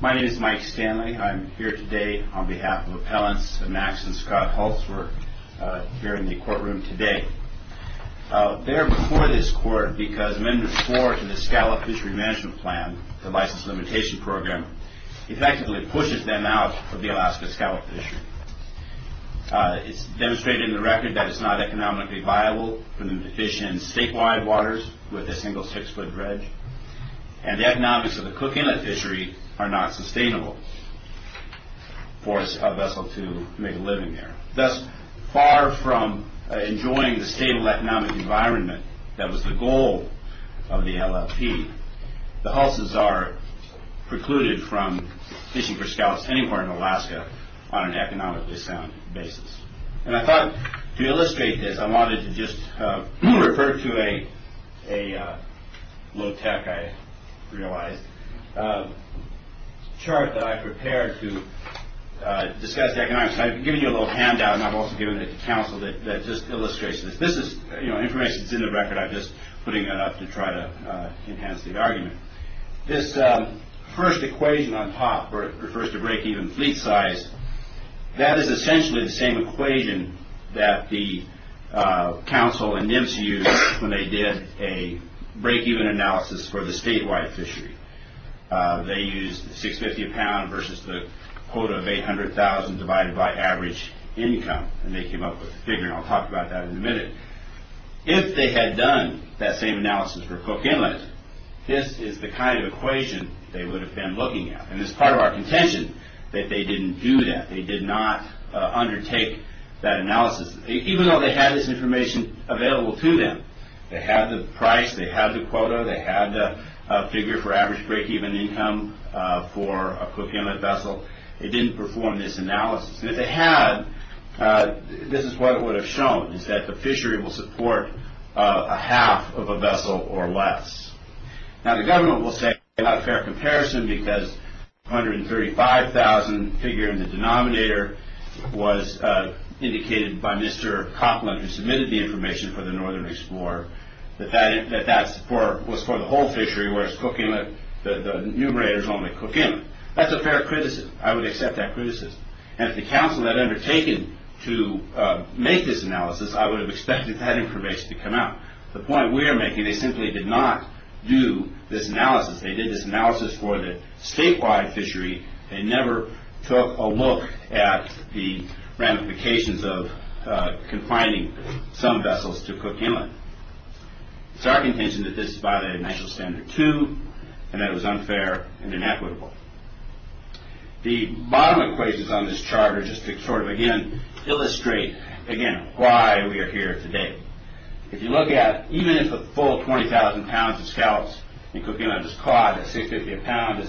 My name is Mike Stanley. I'm here today on behalf of Appellants Max and Scott Hulse. We're here in the courtroom today. They're before this court because Amendment 4 to the Scallop Fishery Management Plan, the License Limitation Program, effectively pushes them out of the Alaska scallop fishery. It's demonstrated in the record that it's not economically viable for them to fish in statewide waters with a single 6-foot dredge. And the economics of the Cook Inlet fishery are not sustainable for a vessel to make a living there. Thus, far from enjoying the stable economic environment that was the goal of the LFP, the Hulses are precluded from fishing for scallops anywhere in Alaska on an economically sound basis. And I thought to illustrate this, I wanted to just refer to a low-tech, I realized, chart that I prepared to discuss economics. I've given you a little handout, and I've also given it to counsel that just illustrates this. This is information that's in the record. I'm just putting it up to try to enhance the argument. This first equation on top refers to break-even fleet size. That is essentially the same equation that the counsel and NMSE used when they did a break-even analysis for the statewide fishery. They used 650 a pound versus the quota of 800,000 divided by average income, and they came up with the figure, and I'll talk about that in a minute. If they had done that same analysis for Cook Inlet, this is the kind of equation they would have been looking at. And it's part of our contention that they didn't do that. They did not undertake that analysis, even though they had this information available to them. They had the price, they had the quota, they had the figure for average break-even income for a Cook Inlet vessel. They didn't perform this analysis. If they had, this is what it would have shown, is that the fishery will support a half of a vessel or less. Now, the government will say it's not a fair comparison because 135,000 figure in the denominator was indicated by Mr. Copland, who submitted the information for the Northern Explorer, that that support was for the whole fishery, whereas Cook Inlet, the numerators only Cook Inlet. That's a fair criticism. I would accept that criticism. And if the council had undertaken to make this analysis, I would have expected that information to come out. The point we are making, they simply did not do this analysis. They did this analysis for the statewide fishery. They never took a look at the ramifications of confining some vessels to Cook Inlet. It's our contention that this is by the international standard, too, and that it was unfair and inequitable. The bottom equations on this chart are just to sort of, again, illustrate, again, why we are here today. If you look at, even if the full 20,000 pounds of scallops in Cook Inlet is caught at 650 a pound,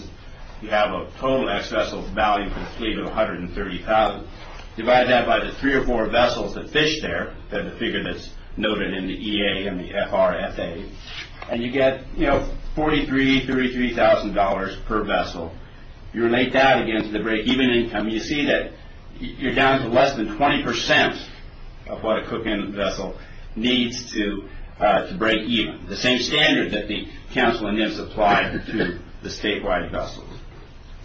you have a total excess of value for the fleet of 130,000. Divide that by the three or four vessels that fish there, then the figure that's noted in the EA and the FRFA, and you get, you know, $43,000, $33,000 per vessel. You relate that against the break-even income, you see that you're down to less than 20% of what a Cook Inlet vessel needs to break even, the same standard that the council and NIMS applied to the statewide vessels.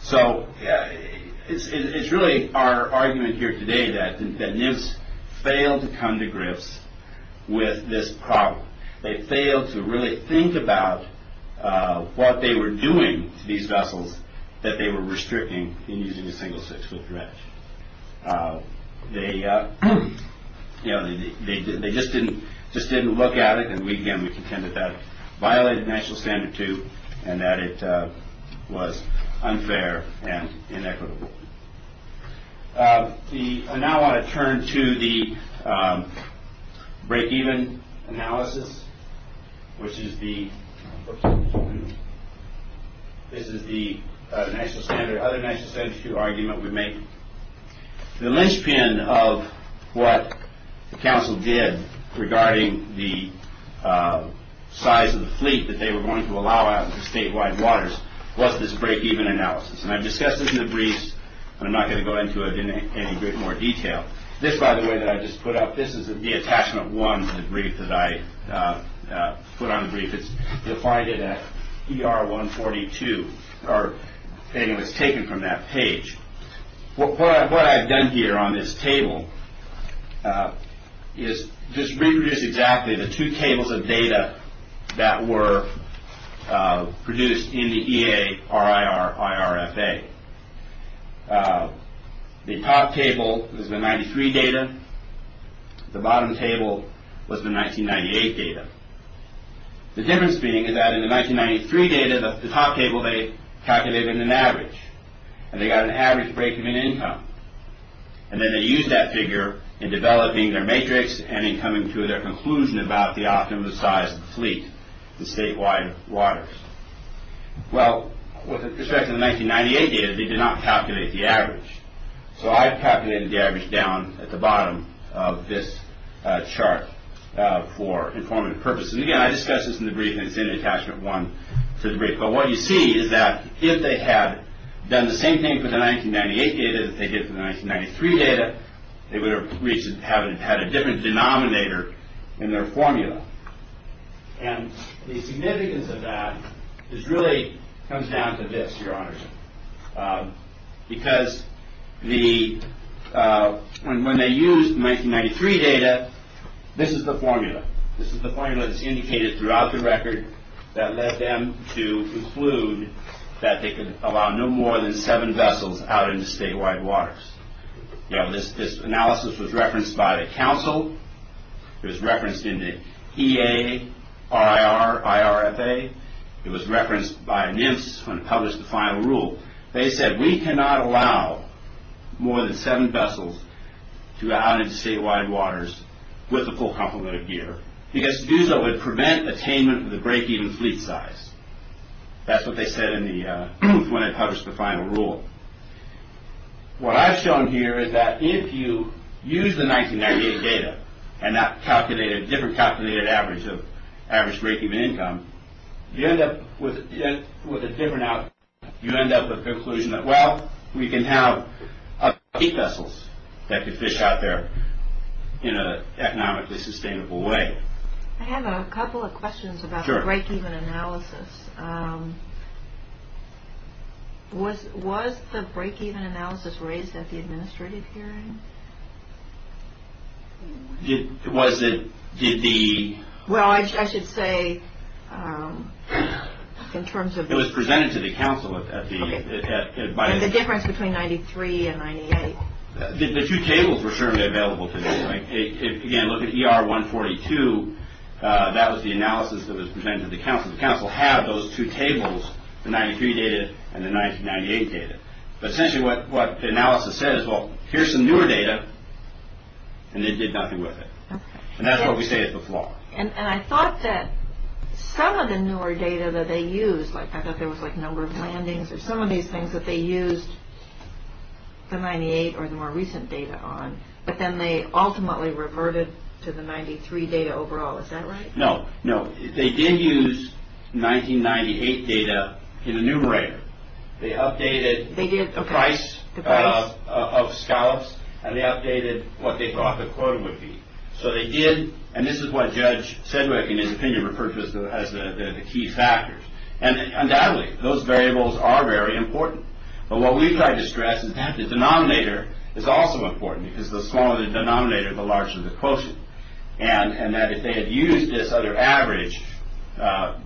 So it's really our argument here today that NIMS failed to come to grips with this problem. They failed to really think about what they were doing to these vessels that they were restricting in using a single six-foot dredge. They just didn't look at it, and we, again, contend that that violated the national standard, too, and that it was unfair and inequitable. I now want to turn to the break-even analysis, which is the—this is the other national standard issue argument we make. The linchpin of what the council did regarding the size of the fleet that they were going to allow out into statewide waters was this break-even analysis, and I've discussed this in the briefs, and I'm not going to go into it in any more detail. This, by the way, that I just put up, this is the attachment one to the brief that I put on the brief. It's defined at ER 142, or, anyway, it's taken from that page. What I've done here on this table is just reproduce exactly the two tables of data that were produced in the EARIR IRFA. The top table is the 1993 data. The bottom table was the 1998 data. The difference being is that in the 1993 data, the top table they calculated an average, and they got an average break-even income, and then they used that figure in developing their matrix and in coming to their conclusion about the optimum size of the fleet in statewide waters. Well, with respect to the 1998 data, they did not calculate the average, so I've calculated the average down at the bottom of this chart for informative purposes. Again, I discussed this in the brief, and it's in the attachment one to the brief, but what you see is that if they had done the same thing for the 1998 data that they did for the 1993 data, they would have had a different denominator in their formula, and the significance of that really comes down to this, Your Honor, because when they used the 1993 data, this is the formula. This is the formula that's indicated throughout the record that led them to conclude that they could allow no more than seven vessels out into statewide waters. This analysis was referenced by the council. It was referenced in the EARIR IRFA. It was referenced by NIMS when it published the final rule. They said we cannot allow more than seven vessels to go out into statewide waters with the full complement of gear because to do so would prevent attainment of the break-even fleet size. That's what they said when they published the final rule. What I've shown here is that if you use the 1998 data and not calculate a different calculated average of average break-even income, you end up with a different outcome. You end up with the conclusion that, well, we can have eight vessels that could fish out there in an economically sustainable way. I have a couple of questions about the break-even analysis. Was the break-even analysis raised at the administrative hearing? Was it? Well, I should say in terms of- It was presented to the council at the- Okay. The difference between 93 and 98. The two tables were certainly available to me. Again, look at ER 142. That was the analysis that was presented to the council. The council had those two tables, the 93 data and the 1998 data. Essentially, what the analysis said is, well, here's some newer data, and they did nothing with it. That's what we say is the flaw. I thought that some of the newer data that they used, like I thought there was a number of landings or some of these things that they used the 98 or the more recent data on, but then they ultimately reverted to the 93 data overall. Is that right? No. No. They did use 1998 data in the numerator. They updated the price of scallops, and they updated what they thought the quota would be. So they did, and this is what Judge Sedgwick, in his opinion, referred to as the key factors. Undoubtedly, those variables are very important, but what we've tried to stress is that the denominator is also important because the smaller the denominator, the larger the quotient, and that if they had used this other average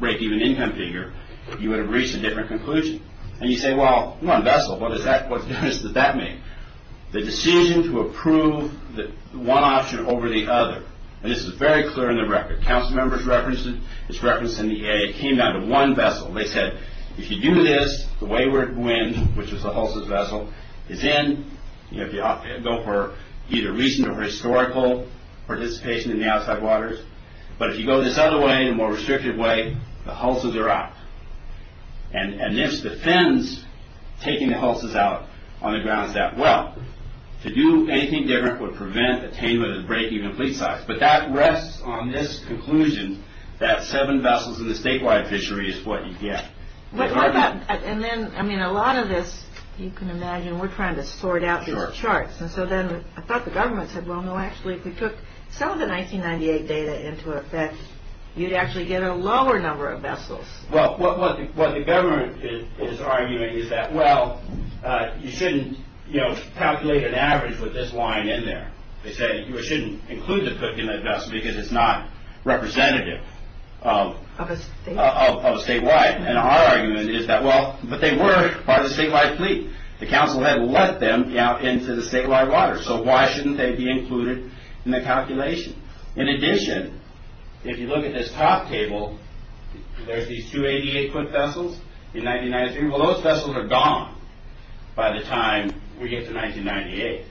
break-even income figure, you would have reached a different conclusion. And you say, well, one vessel. What's the difference that that made? The decision to approve one option over the other, and this is very clear in the record. Council members referenced it. It's referenced in the EA. It came down to one vessel. They said, if you do this, the wayward wind, which was the Hulst's vessel, is in. If you go for either recent or historical participation in the outside waters, but if you go this other way, a more restrictive way, the Hulst's are out. And this defends taking the Hulst's out on the grounds that, well, to do anything different would prevent attainment of the break-even complete size, but that rests on this conclusion that seven vessels in the statewide fishery is what you get. And then, I mean, a lot of this, you can imagine, we're trying to sort out these charts. And so then I thought the government said, well, no, actually, if we took some of the 1998 data into effect, you'd actually get a lower number of vessels. Well, what the government is arguing is that, well, you shouldn't calculate an average with this line in there. They say you shouldn't include the cook in that vessel because it's not representative of statewide. And our argument is that, well, but they were part of the statewide fleet. The council had let them out into the statewide water, so why shouldn't they be included in the calculation? In addition, if you look at this top table, there's these 288 cook vessels in 1993. Well, those vessels are gone by the time we get to 1998.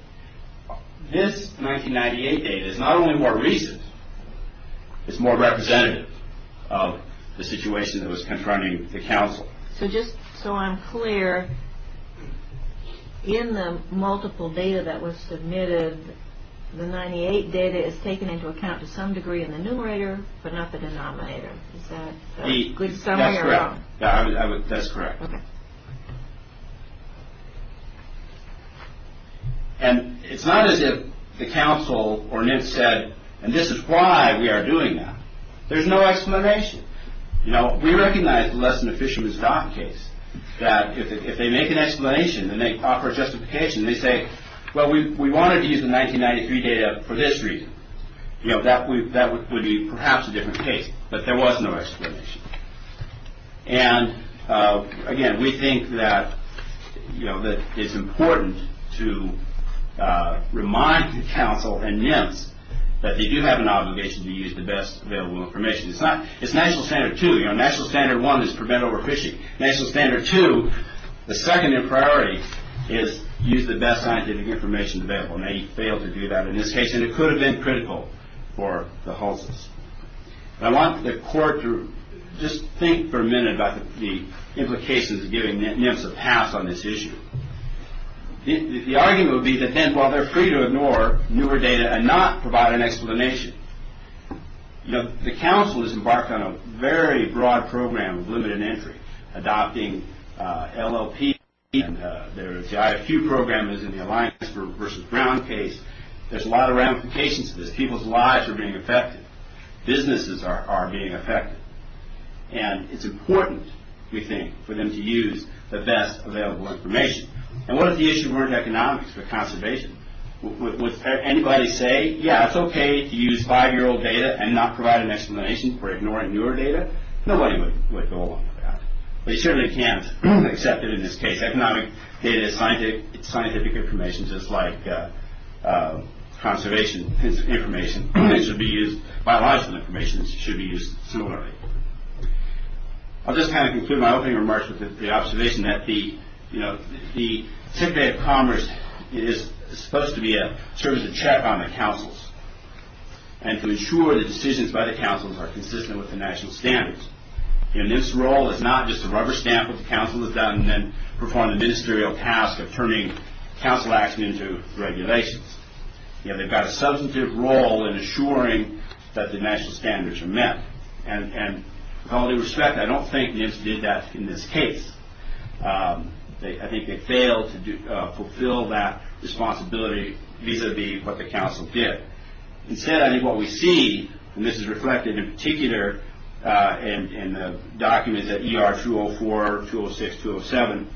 This 1998 data is not only more recent, it's more representative of the situation that was confronting the council. So just so I'm clear, in the multiple data that was submitted, the 1998 data is taken into account to some degree in the numerator, but not the denominator. Is that a good summary? That's correct. Okay. And it's not as if the council or NIST said, and this is why we are doing that. There's no explanation. You know, we recognize the Lesson of Fishermen's Doc case, that if they make an explanation and they offer a justification, they say, well, we wanted to use the 1993 data for this reason. You know, that would be perhaps a different case, but there was no explanation. And, again, we think that, you know, that it's important to remind the council and NIST that they do have an obligation to use the best available information. It's National Standard 2. You know, National Standard 1 is prevent overfishing. National Standard 2, the second priority is use the best scientific information available, and they failed to do that in this case, and it could have been critical for the Hulses. I want the court to just think for a minute about the implications of giving NIMS a pass on this issue. The argument would be that then, while they're free to ignore newer data and not provide an explanation, you know, the council has embarked on a very broad program of limited entry, adopting LLP. There are a few programs in the Alliance versus Brown case. There's a lot of ramifications to this. People's lives are being affected. Businesses are being affected. And it's important, we think, for them to use the best available information. And what if the issue weren't economics but conservation? Would anybody say, yeah, it's okay to use five-year-old data and not provide an explanation for ignoring newer data? Nobody would go along with that. But you certainly can't accept it in this case. Economic data is scientific information, just like conservation information. Biological information should be used similarly. I'll just kind of conclude my opening remarks with the observation that the, you know, the Secretary of Commerce is supposed to be a service of check on the councils and to ensure the decisions by the councils are consistent with the national standards. You know, NIMS' role is not just a rubber stamp of what the council has done and then perform the ministerial task of turning council action into regulations. You know, they've got a substantive role in assuring that the national standards are met. And with all due respect, I don't think NIMS did that in this case. I think they failed to fulfill that responsibility vis-a-vis what the council did. Instead, I think what we see, and this is reflected in particular in the documents at ER 204, 206, 207,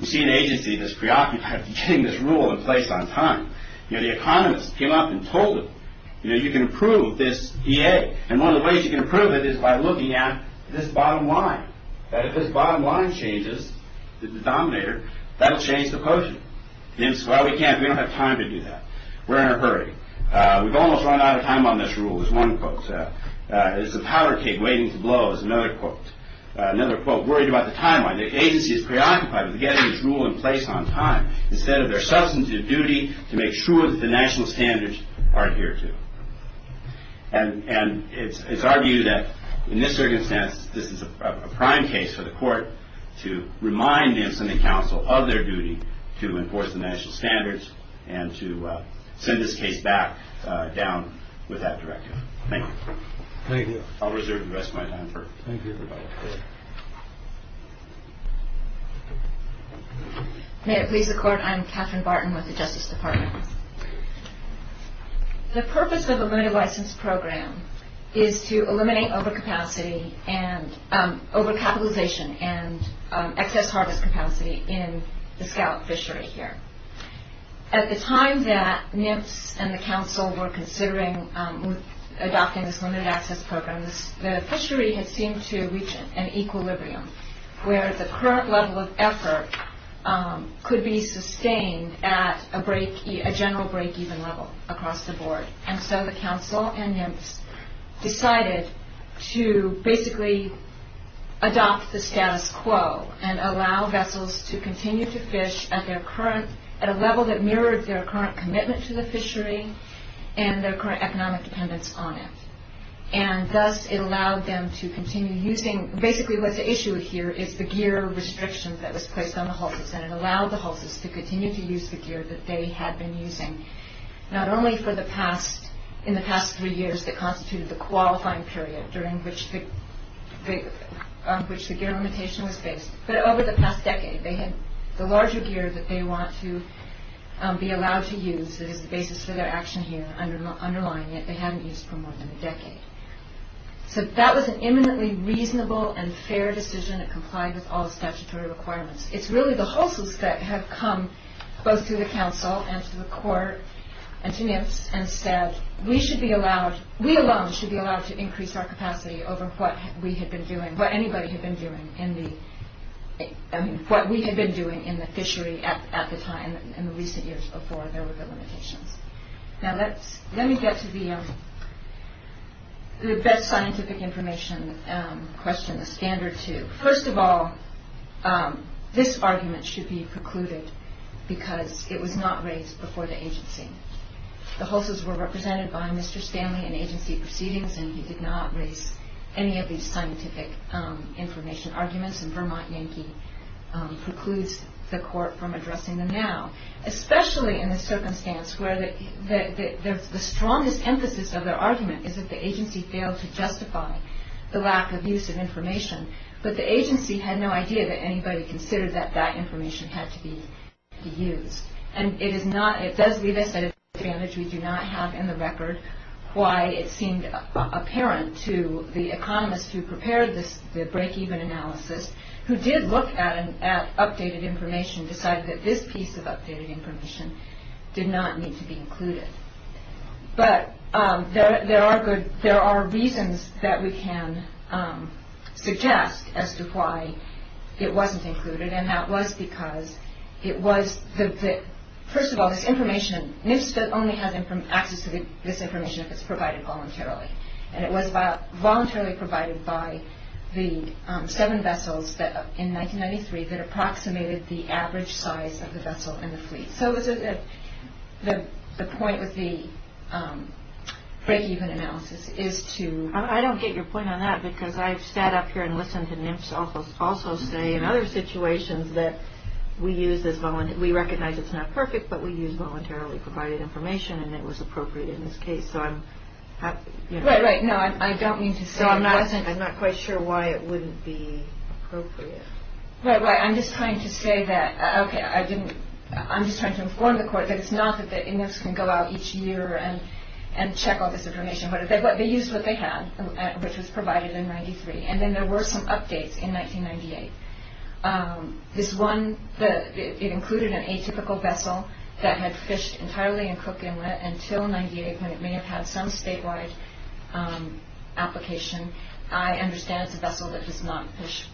we see an agency that's preoccupied with getting this rule in place on time. You know, the economists came up and told them, you know, you can approve this EA. And one of the ways you can approve it is by looking at this bottom line, that if this bottom line changes, the denominator, that'll change the potion. NIMS, well, we can't, we don't have time to do that. We're in a hurry. We've almost run out of time on this rule, is one quote. It's a powder keg waiting to blow, is another quote. Another quote, worried about the timeline. The agency is preoccupied with getting this rule in place on time instead of their substantive duty to make sure that the national standards are adhered to. And it's argued that in this circumstance, this is a prime case for the court to remind NIMS and the counsel of their duty to enforce the national standards and to send this case back down with that directive. Thank you. Thank you. I'll reserve the rest of my time for rebuttal. May it please the court, I'm Catherine Barton with the Justice Department. The purpose of a limited license program is to eliminate overcapacity and overcapitalization and excess harvest capacity in the scout fishery here. At the time that NIMS and the counsel were considering adopting this limited access program, the fishery had seemed to reach an equilibrium where the current level of effort could be sustained at a general break-even level across the board. And so the counsel and NIMS decided to basically adopt the status quo and allow vessels to continue to fish at their current, at a level that mirrored their current commitment to the fishery and their current economic dependence on it. And thus it allowed them to continue using, basically what's at issue here is the gear restrictions that was placed on the hulses and it allowed the hulses to continue to use the gear that they had been using not only in the past three years that constituted the qualifying period during which the gear limitation was based, but over the past decade. The larger gear that they want to be allowed to use that is the basis for their action here underlying it, they haven't used for more than a decade. So that was an eminently reasonable and fair decision that complied with all the statutory requirements. It's really the hulses that have come both to the counsel and to the court and to NIMS and said we should be allowed, we alone should be allowed to increase our capacity over what we had been doing, what anybody had been doing in the, I mean what we had been doing in the fishery at the time in the recent years before there were the limitations. Now let me get to the best scientific information question, the standard two. First of all, this argument should be precluded because it was not raised before the agency. The hulses were represented by Mr. Stanley in agency proceedings and he did not raise any of these scientific information arguments and Vermont Yankee precludes the court from addressing them now, especially in a circumstance where the strongest emphasis of their argument but the agency had no idea that anybody considered that that information had to be used and it does leave us at a disadvantage. We do not have in the record why it seemed apparent to the economist who prepared the breakeven analysis who did look at updated information, decided that this piece of updated information did not need to be included. But there are reasons that we can suggest as to why it wasn't included and that was because it was, first of all, this information, NIFA only has access to this information if it's provided voluntarily and it was voluntarily provided by the seven vessels in 1993 that approximated the average size of the vessel and the fleet. So the point of the breakeven analysis is to... I don't get your point on that because I've sat up here and listened to NIFA also say in other situations that we recognize it's not perfect but we use voluntarily provided information and it was appropriate in this case. Right, right. No, I don't mean to say... So I'm not quite sure why it wouldn't be appropriate. Right, right. I'm just trying to say that... Okay, I didn't... I'm just trying to inform the court that it's not that the index can go out each year and check all this information. They used what they had which was provided in 1993 and then there were some updates in 1998. This one, it included an atypical vessel that had fished entirely in Cook Inlet until 1998 when it may have had some statewide application. I understand it's a vessel that does not fish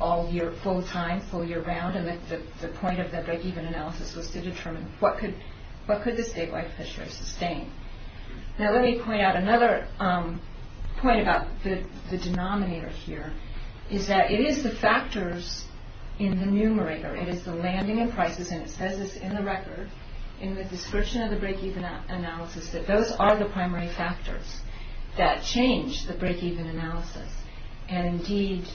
all year full time, full year round, and the point of the breakeven analysis was to determine what could the statewide fishery sustain. Now let me point out another point about the denominator here is that it is the factors in the numerator. It is the landing and prices and it says this in the record in the description of the breakeven analysis that those are the primary factors that change the breakeven analysis. Indeed,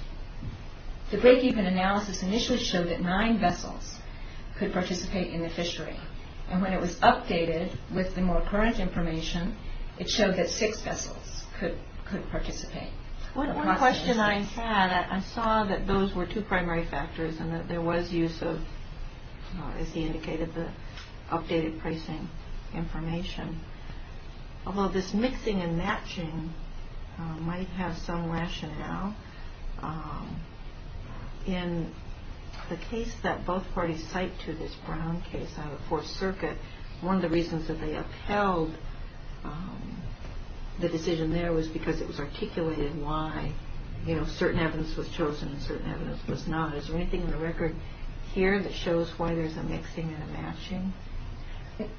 the breakeven analysis initially showed that nine vessels could participate in the fishery and when it was updated with the more current information, it showed that six vessels could participate. One question I had, I saw that those were two primary factors and that there was use of, as he indicated, the updated pricing information. Although this mixing and matching might have some rationale, in the case that both parties cite to this Brown case out of Fourth Circuit, one of the reasons that they upheld the decision there was because it was articulated why certain evidence was chosen and certain evidence was not. Is there anything in the record here that shows why there's a mixing and a matching?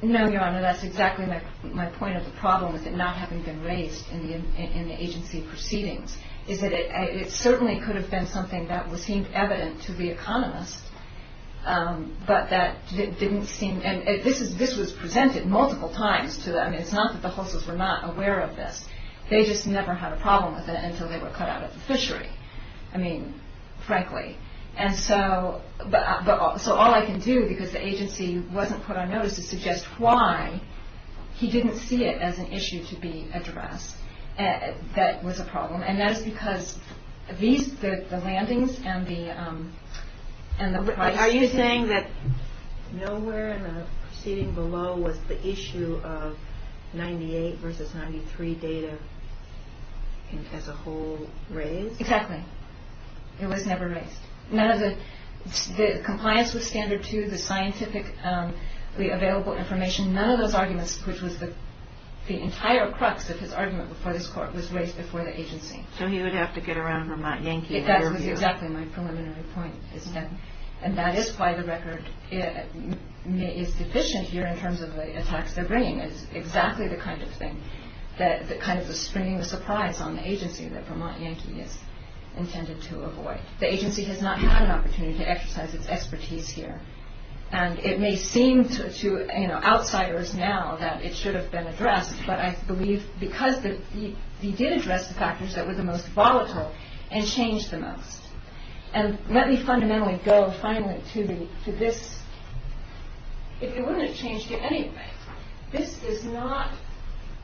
No, Your Honor, that's exactly my point of the problem is that not having been raised in the agency proceedings is that it certainly could have been something that seemed evident to the economist, but that didn't seem, and this was presented multiple times to them. It's not that the hostels were not aware of this. They just never had a problem with it until they were cut out of the fishery, frankly. And so all I can do, because the agency wasn't put on notice, is suggest why he didn't see it as an issue to be addressed that was a problem, and that is because these, the landings and the price. Are you saying that nowhere in the proceeding below was the issue of 98 versus 93 data as a whole raised? Exactly. It was never raised. None of the compliance with standard two, the scientifically available information, none of those arguments, which was the entire crux of his argument before this court, was raised before the agency. So he would have to get around Vermont Yankee. That was exactly my preliminary point, isn't it? And that is why the record is deficient here in terms of the attacks they're bringing. It's exactly the kind of thing, the kind of springing the surprise on the agency that Vermont Yankee is intended to avoid. The agency has not had an opportunity to exercise its expertise here, and it may seem to outsiders now that it should have been addressed, but I believe because he did address the factors that were the most volatile and changed the most. And let me fundamentally go finally to this. It wouldn't change anything. This is not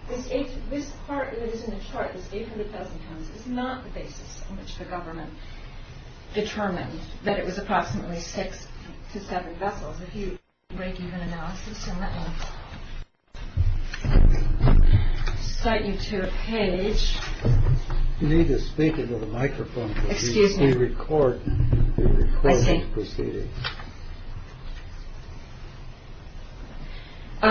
this. This part that is in the chart is 800,000 pounds. It's not the basis in which the government determined that it was approximately six to seven vessels. If you break even analysis and let me cite you to a page. You need to speak into the microphone. Excuse me. We record the recording. I see. In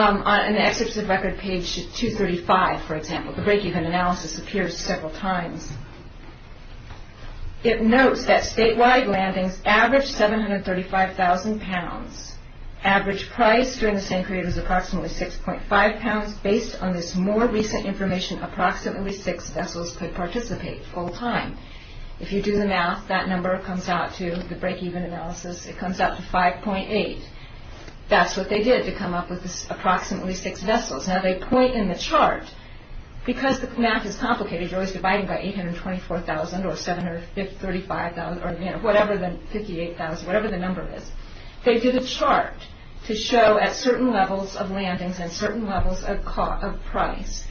the excerpts of record page 235, for example, the break-even analysis appears several times. It notes that statewide landings averaged 735,000 pounds. Average price during the same period was approximately 6.5 pounds. Based on this more recent information, approximately six vessels could participate full time. If you do the math, that number comes out to the break-even analysis. It comes out to 5.8. That's what they did to come up with approximately six vessels. Now they point in the chart. Because the math is complicated, you're always dividing by 824,000 or 735,000 or whatever the number is. They did a chart to show at certain levels of landings and certain levels of price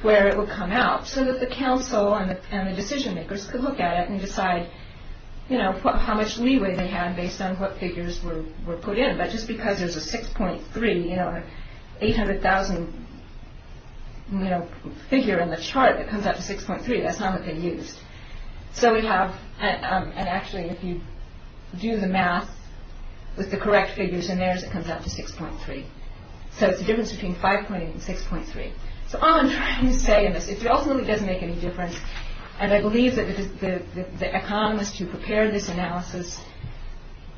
where it would come out so that the council and the decision makers could look at it and decide how much leeway they had based on what figures were put in. But just because there's a 6.3, you know, 800,000 figure in the chart, it comes out to 6.3. That's not what they used. So we have – and actually if you do the math with the correct figures in theirs, it comes out to 6.3. So it's the difference between 5.8 and 6.3. So all I'm trying to say in this – it ultimately doesn't make any difference. And I believe that the economists who prepared this analysis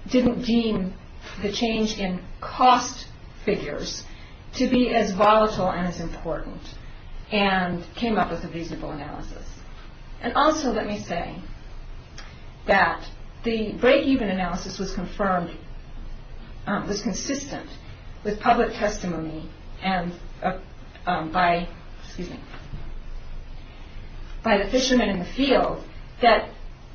didn't deem the change in cost figures to be as volatile and as important and came up with a reasonable analysis. And also let me say that the breakeven analysis was confirmed – was consistent with public testimony by the fishermen in the field that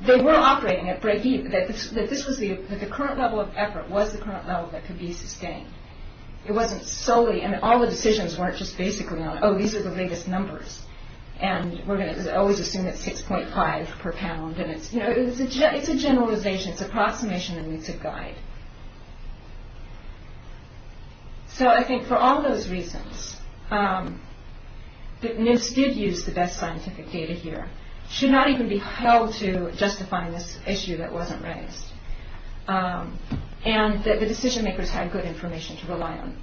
they were operating at breakeven, that this was the – that the current level of effort was the current level that could be sustained. It wasn't solely – I mean, all the decisions weren't just basically on, oh, these are the latest numbers and we're going to always assume it's 6.5 per pound and it's – you know, it's a generalization. It's an approximation that needs a guide. So I think for all those reasons that NIST did use the best scientific data here should not even be held to justifying this issue that wasn't raised. And the decision makers had good information to rely on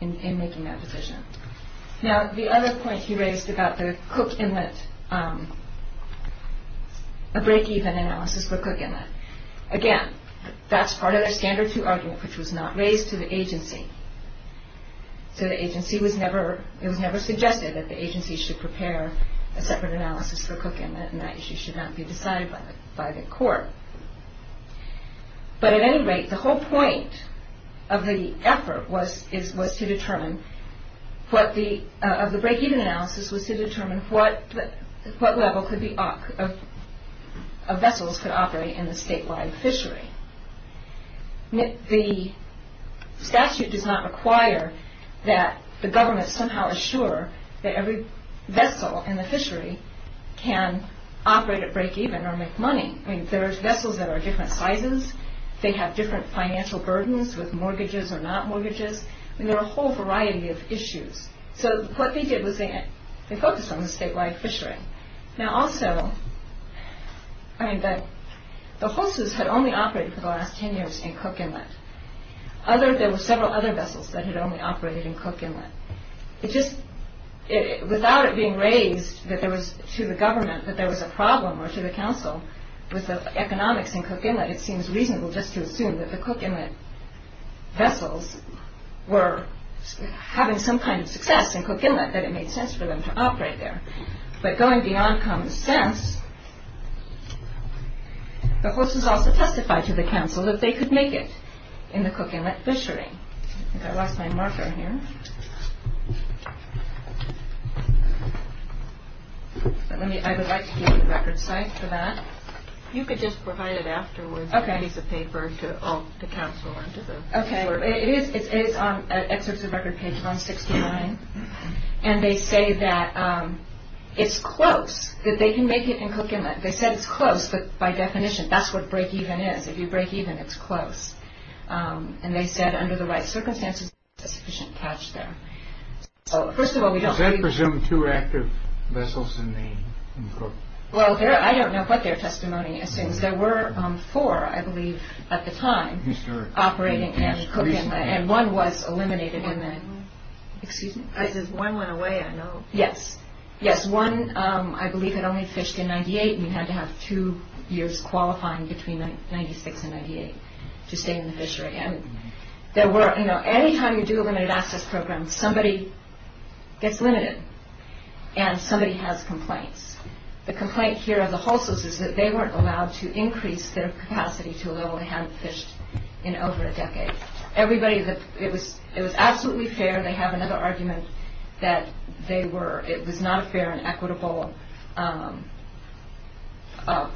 in making that decision. Now, the other point he raised about the Cook Inlet – a breakeven analysis for Cook Inlet. Again, that's part of their standard two argument, which was not raised to the agency. So the agency was never – it was never suggested that the agency should prepare a separate analysis for Cook Inlet and that issue should not be decided by the court. But at any rate, the whole point of the effort was to determine what the – of the breakeven analysis was to determine what level could be – of vessels could operate in the statewide fishery. The statute does not require that the government somehow assure that every vessel in the fishery can operate at breakeven or make money. I mean, there are vessels that are different sizes. They have different financial burdens with mortgages or not mortgages. I mean, there are a whole variety of issues. So what they did was they focused on the statewide fishery. Now, also, I mean, the HOSUs had only operated for the last 10 years in Cook Inlet. Other – there were several other vessels that had only operated in Cook Inlet. It just – without it being raised that there was – to the government that there was a problem or to the council with the economics in Cook Inlet, it seems reasonable just to assume that the Cook Inlet vessels were having some kind of success in Cook Inlet, that it made sense for them to operate there. But going beyond common sense, the HOSUs also testified to the council that they could make it in the Cook Inlet fishery. I think I lost my marker here. Let me – I would like to give you the record site for that. You could just provide it afterwards as a piece of paper to all – to council. Okay. It is – it's on – excerpts of record page 169. And they say that it's close, that they can make it in Cook Inlet. They said it's close, but by definition, that's what breakeven is. If you breakeven, it's close. And they said under the right circumstances, there's a sufficient catch there. So first of all, we don't believe – Does that presume two active vessels in the – in Cook? Well, I don't know what their testimony assumes. There were four, I believe, at the time operating in Cook Inlet, and one was eliminated in the – excuse me? As one went away, I know. Yes. Yes. One, I believe, had only fished in 98 and had to have two years qualifying between 96 and 98 to stay in the fishery. And there were – you know, any time you do a limited access program, somebody gets limited and somebody has complaints. The complaint here of the Hulsos is that they weren't allowed to increase their capacity to a level they hadn't fished in over a decade. Everybody – it was absolutely fair. They have another argument that they were – it was not a fair and equitable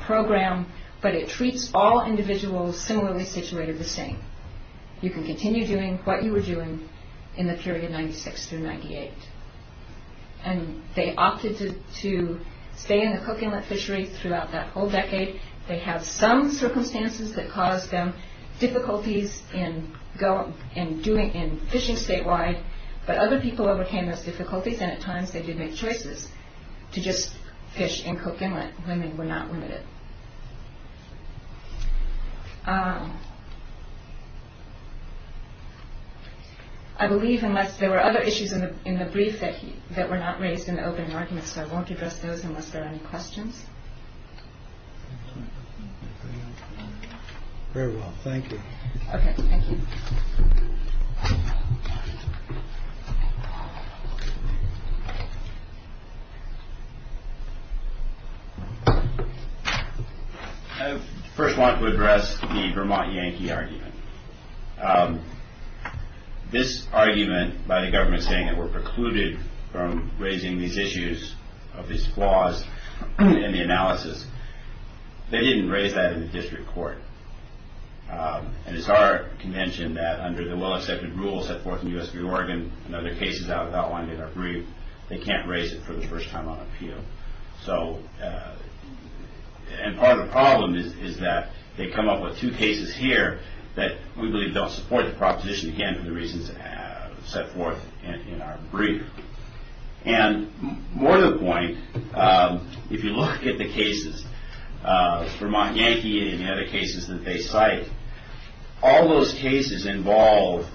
program, but it treats all individuals similarly situated the same. You can continue doing what you were doing in the period 96 through 98. And they opted to stay in the Cook Inlet fishery throughout that whole decade. They have some circumstances that caused them difficulties in doing – in fishing statewide, but other people overcame those difficulties, and at times they did make choices to just fish in Cook Inlet when they were not limited. I believe unless there were other issues in the brief that were not raised in the opening arguments, I won't address those unless there are any questions. Very well. Thank you. Okay. Thank you. I first want to address the Vermont Yankee argument. This argument by the government saying they were precluded from raising these issues of these flaws in the analysis, they didn't raise that in the district court. And it's our convention that under the well-accepted rules set forth in U.S. v. Oregon and other cases outlined in our brief, they can't raise it for the first time on appeal. So – and part of the problem is that they come up with two cases here that we believe don't support the proposition again for the reasons set forth in our brief. And more to the point, if you look at the cases, Vermont Yankee and the other cases that they cite, all those cases involve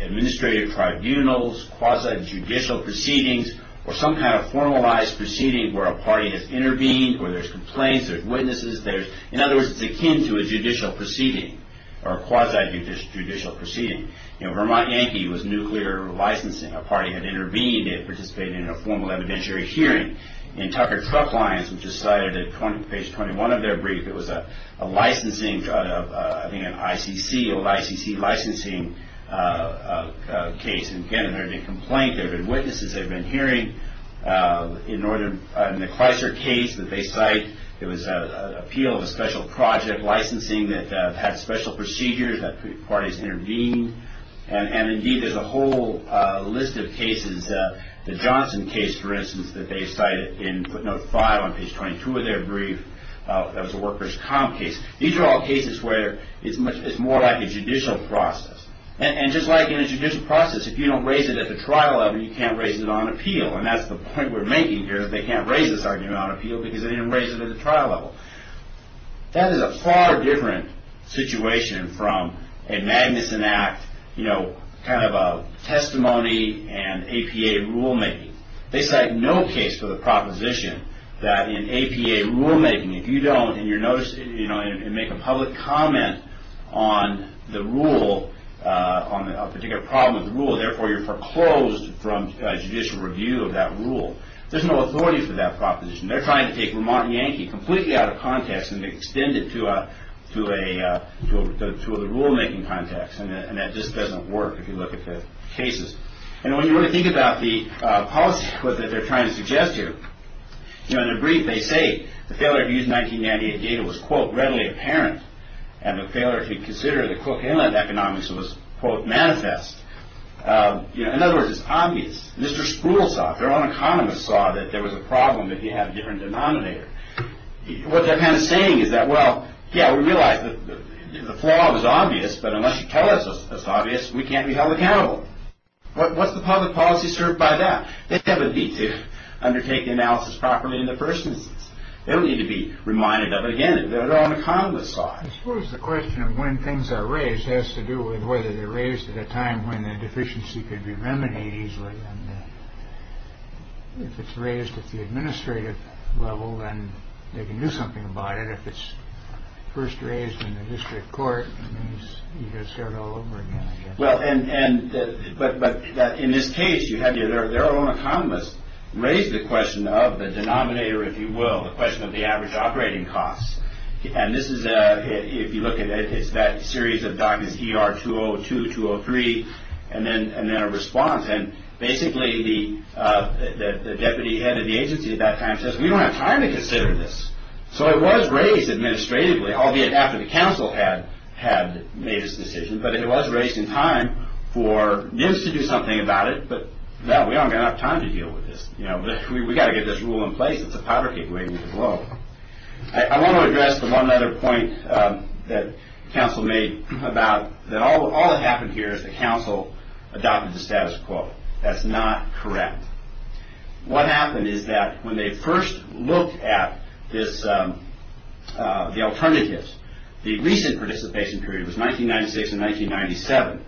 administrative tribunals, quasi-judicial proceedings, or some kind of formalized proceeding where a party has intervened, where there's complaints, there's witnesses, there's – in other words, it's akin to a judicial proceeding or a quasi-judicial proceeding. You know, Vermont Yankee was nuclear licensing. A party had intervened. It participated in a formal evidentiary hearing. In Tucker Truck Lines, which is cited at page 21 of their brief, it was a licensing – I think an ICC, old ICC licensing case. And again, there had been a complaint. There had been witnesses. There had been a hearing. In the Chrysler case that they cite, it was an appeal of a special project licensing that had special procedures that parties intervened. And, indeed, there's a whole list of cases. The Johnson case, for instance, that they cited in footnote 5 on page 22 of their brief, that was a workers' comp case. These are all cases where it's more like a judicial process. And just like in a judicial process, if you don't raise it at the trial level, you can't raise it on appeal. And that's the point we're making here, that they can't raise this argument on appeal because they didn't raise it at the trial level. That is a far different situation from a Magnuson Act kind of a testimony and APA rulemaking. They cite no case for the proposition that in APA rulemaking, if you don't, and you make a public comment on the rule, on a particular problem with the rule, therefore you're foreclosed from judicial review of that rule. There's no authority for that proposition. They're trying to take Vermont Yankee completely out of context and extend it to a rulemaking context, and that just doesn't work if you look at the cases. And when you really think about the policy that they're trying to suggest here, in a brief they say the failure to use 1998 data was, quote, readily apparent, and the failure to consider the, quote, inland economics was, quote, manifest. In other words, it's obvious. Mr. Spruill saw it. Their own economists saw that there was a problem if you had a different denominator. What they're kind of saying is that, well, yeah, we realize that the flaw was obvious, but unless you tell us it's obvious, we can't be held accountable. What's the public policy served by that? They have a need to undertake the analysis properly in the first instance. They don't need to be reminded of it again. Their own economists saw it. I suppose the question of when things are raised has to do with whether they're raised at a time when the deficiency could be remedied easily. If it's raised at the administrative level, then they can do something about it. If it's first raised in the district court, you just start all over again. Well, and but in this case, you have your their own economists raise the question of the denominator, if you will, the question of the average operating costs. And this is if you look at it, it's that series of documents. You are two or two or three. And then and then a response. And basically the deputy head of the agency at that time says we don't have time to consider this. So it was raised administratively, albeit after the council had had made this decision. But it was raised in time for this to do something about it. But now we don't have time to deal with this. You know, we've got to get this rule in place. It's a powder keg waiting to blow. I want to address the one other point that council made about that. All that happened here is the council adopted the status quo. That's not correct. What happened is that when they first looked at this, the alternatives, the recent participation period was 1996 and 1997.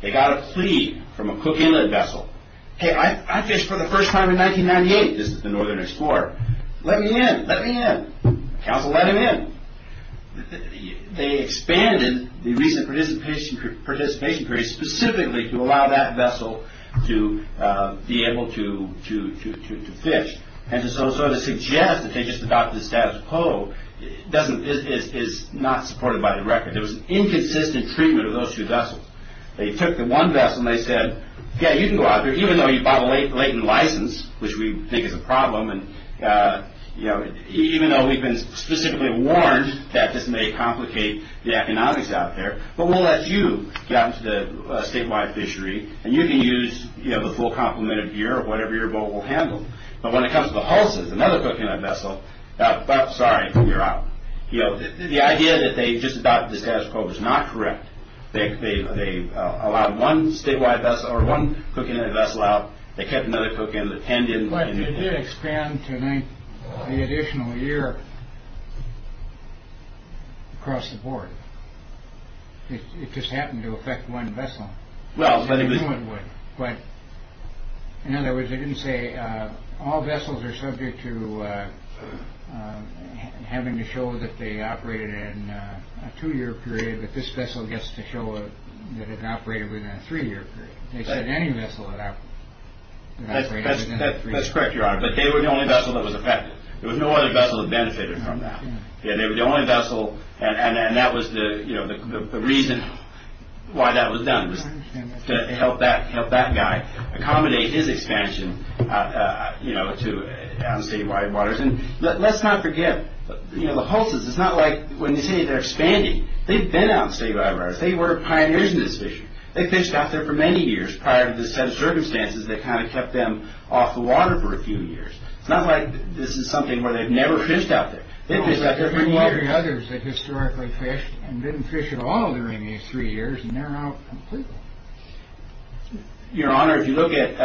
They got a plea from a Cook Inlet vessel. Hey, I fished for the first time in 1998. This is the Northern Explorer. Let me in. Let me in. The council let him in. They expanded the recent participation period specifically to allow that vessel to be able to fish. And so to suggest that they just adopted the status quo is not supported by the record. There was inconsistent treatment of those two vessels. They took the one vessel and they said, yeah, you can go out there, even though you bought a latent license, which we think is a problem, and even though we've been specifically warned that this may complicate the economics out there, but we'll let you go out to the statewide fishery and you can use the full complement of gear or whatever your boat will handle. But when it comes to the Hulses, another Cook Inlet vessel, sorry, you're out. The idea that they just adopted the status quo is not correct. They allowed one statewide vessel or one cook in a vessel out. They kept another cook in the tendon. But it did expand to make the additional year across the board. It just happened to affect one vessel. Well, I think this one would. But in other words, they didn't say all vessels are subject to having to show that they operated in a two year period. If this vessel gets to show that it operated within a three year period, they said any vessel that that's correct, your honor. But they were the only vessel that was affected. There was no other vessel that benefited from that. And they were the only vessel. And that was the reason why that was done, to help that help that guy accommodate his expansion to statewide waters. Let's not forget the Hulses. It's not like when you say they're expanding. They've been out statewide waters. They were pioneers in this issue. They fished out there for many years prior to the set of circumstances that kind of kept them off the water for a few years. It's not like this is something where they've never fished out there. They fished out there for many years. There are others that historically fished and didn't fish at all during these three years. And they're out completely. Your honor, if you look at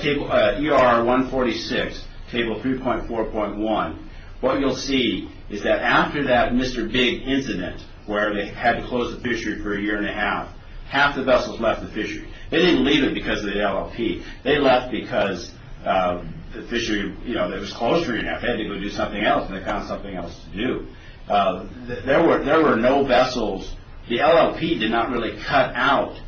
table ER 146, table 3.4.1, what you'll see is that after that Mr. Big incident, where they had to close the fishery for a year and a half, half the vessels left the fishery. They didn't leave it because of the LLP. They left because the fishery was closed for a year and a half. They had to go do something else, and they found something else to do. There were no vessels. The LLP did not really cut out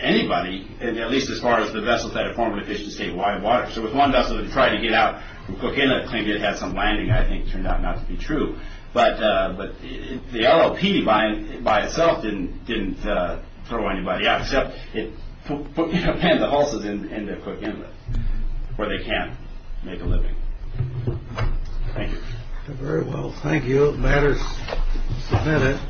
anybody, at least as far as the vessels that had formerly fished the statewide waters. There was one vessel that tried to get out from Coquitlam and claimed it had some landing that I think turned out not to be true. But the LLP by itself didn't throw anybody out, except it pinned the hulses into Coquitlam where they can't make a living. Thank you. It matters. Just a minute.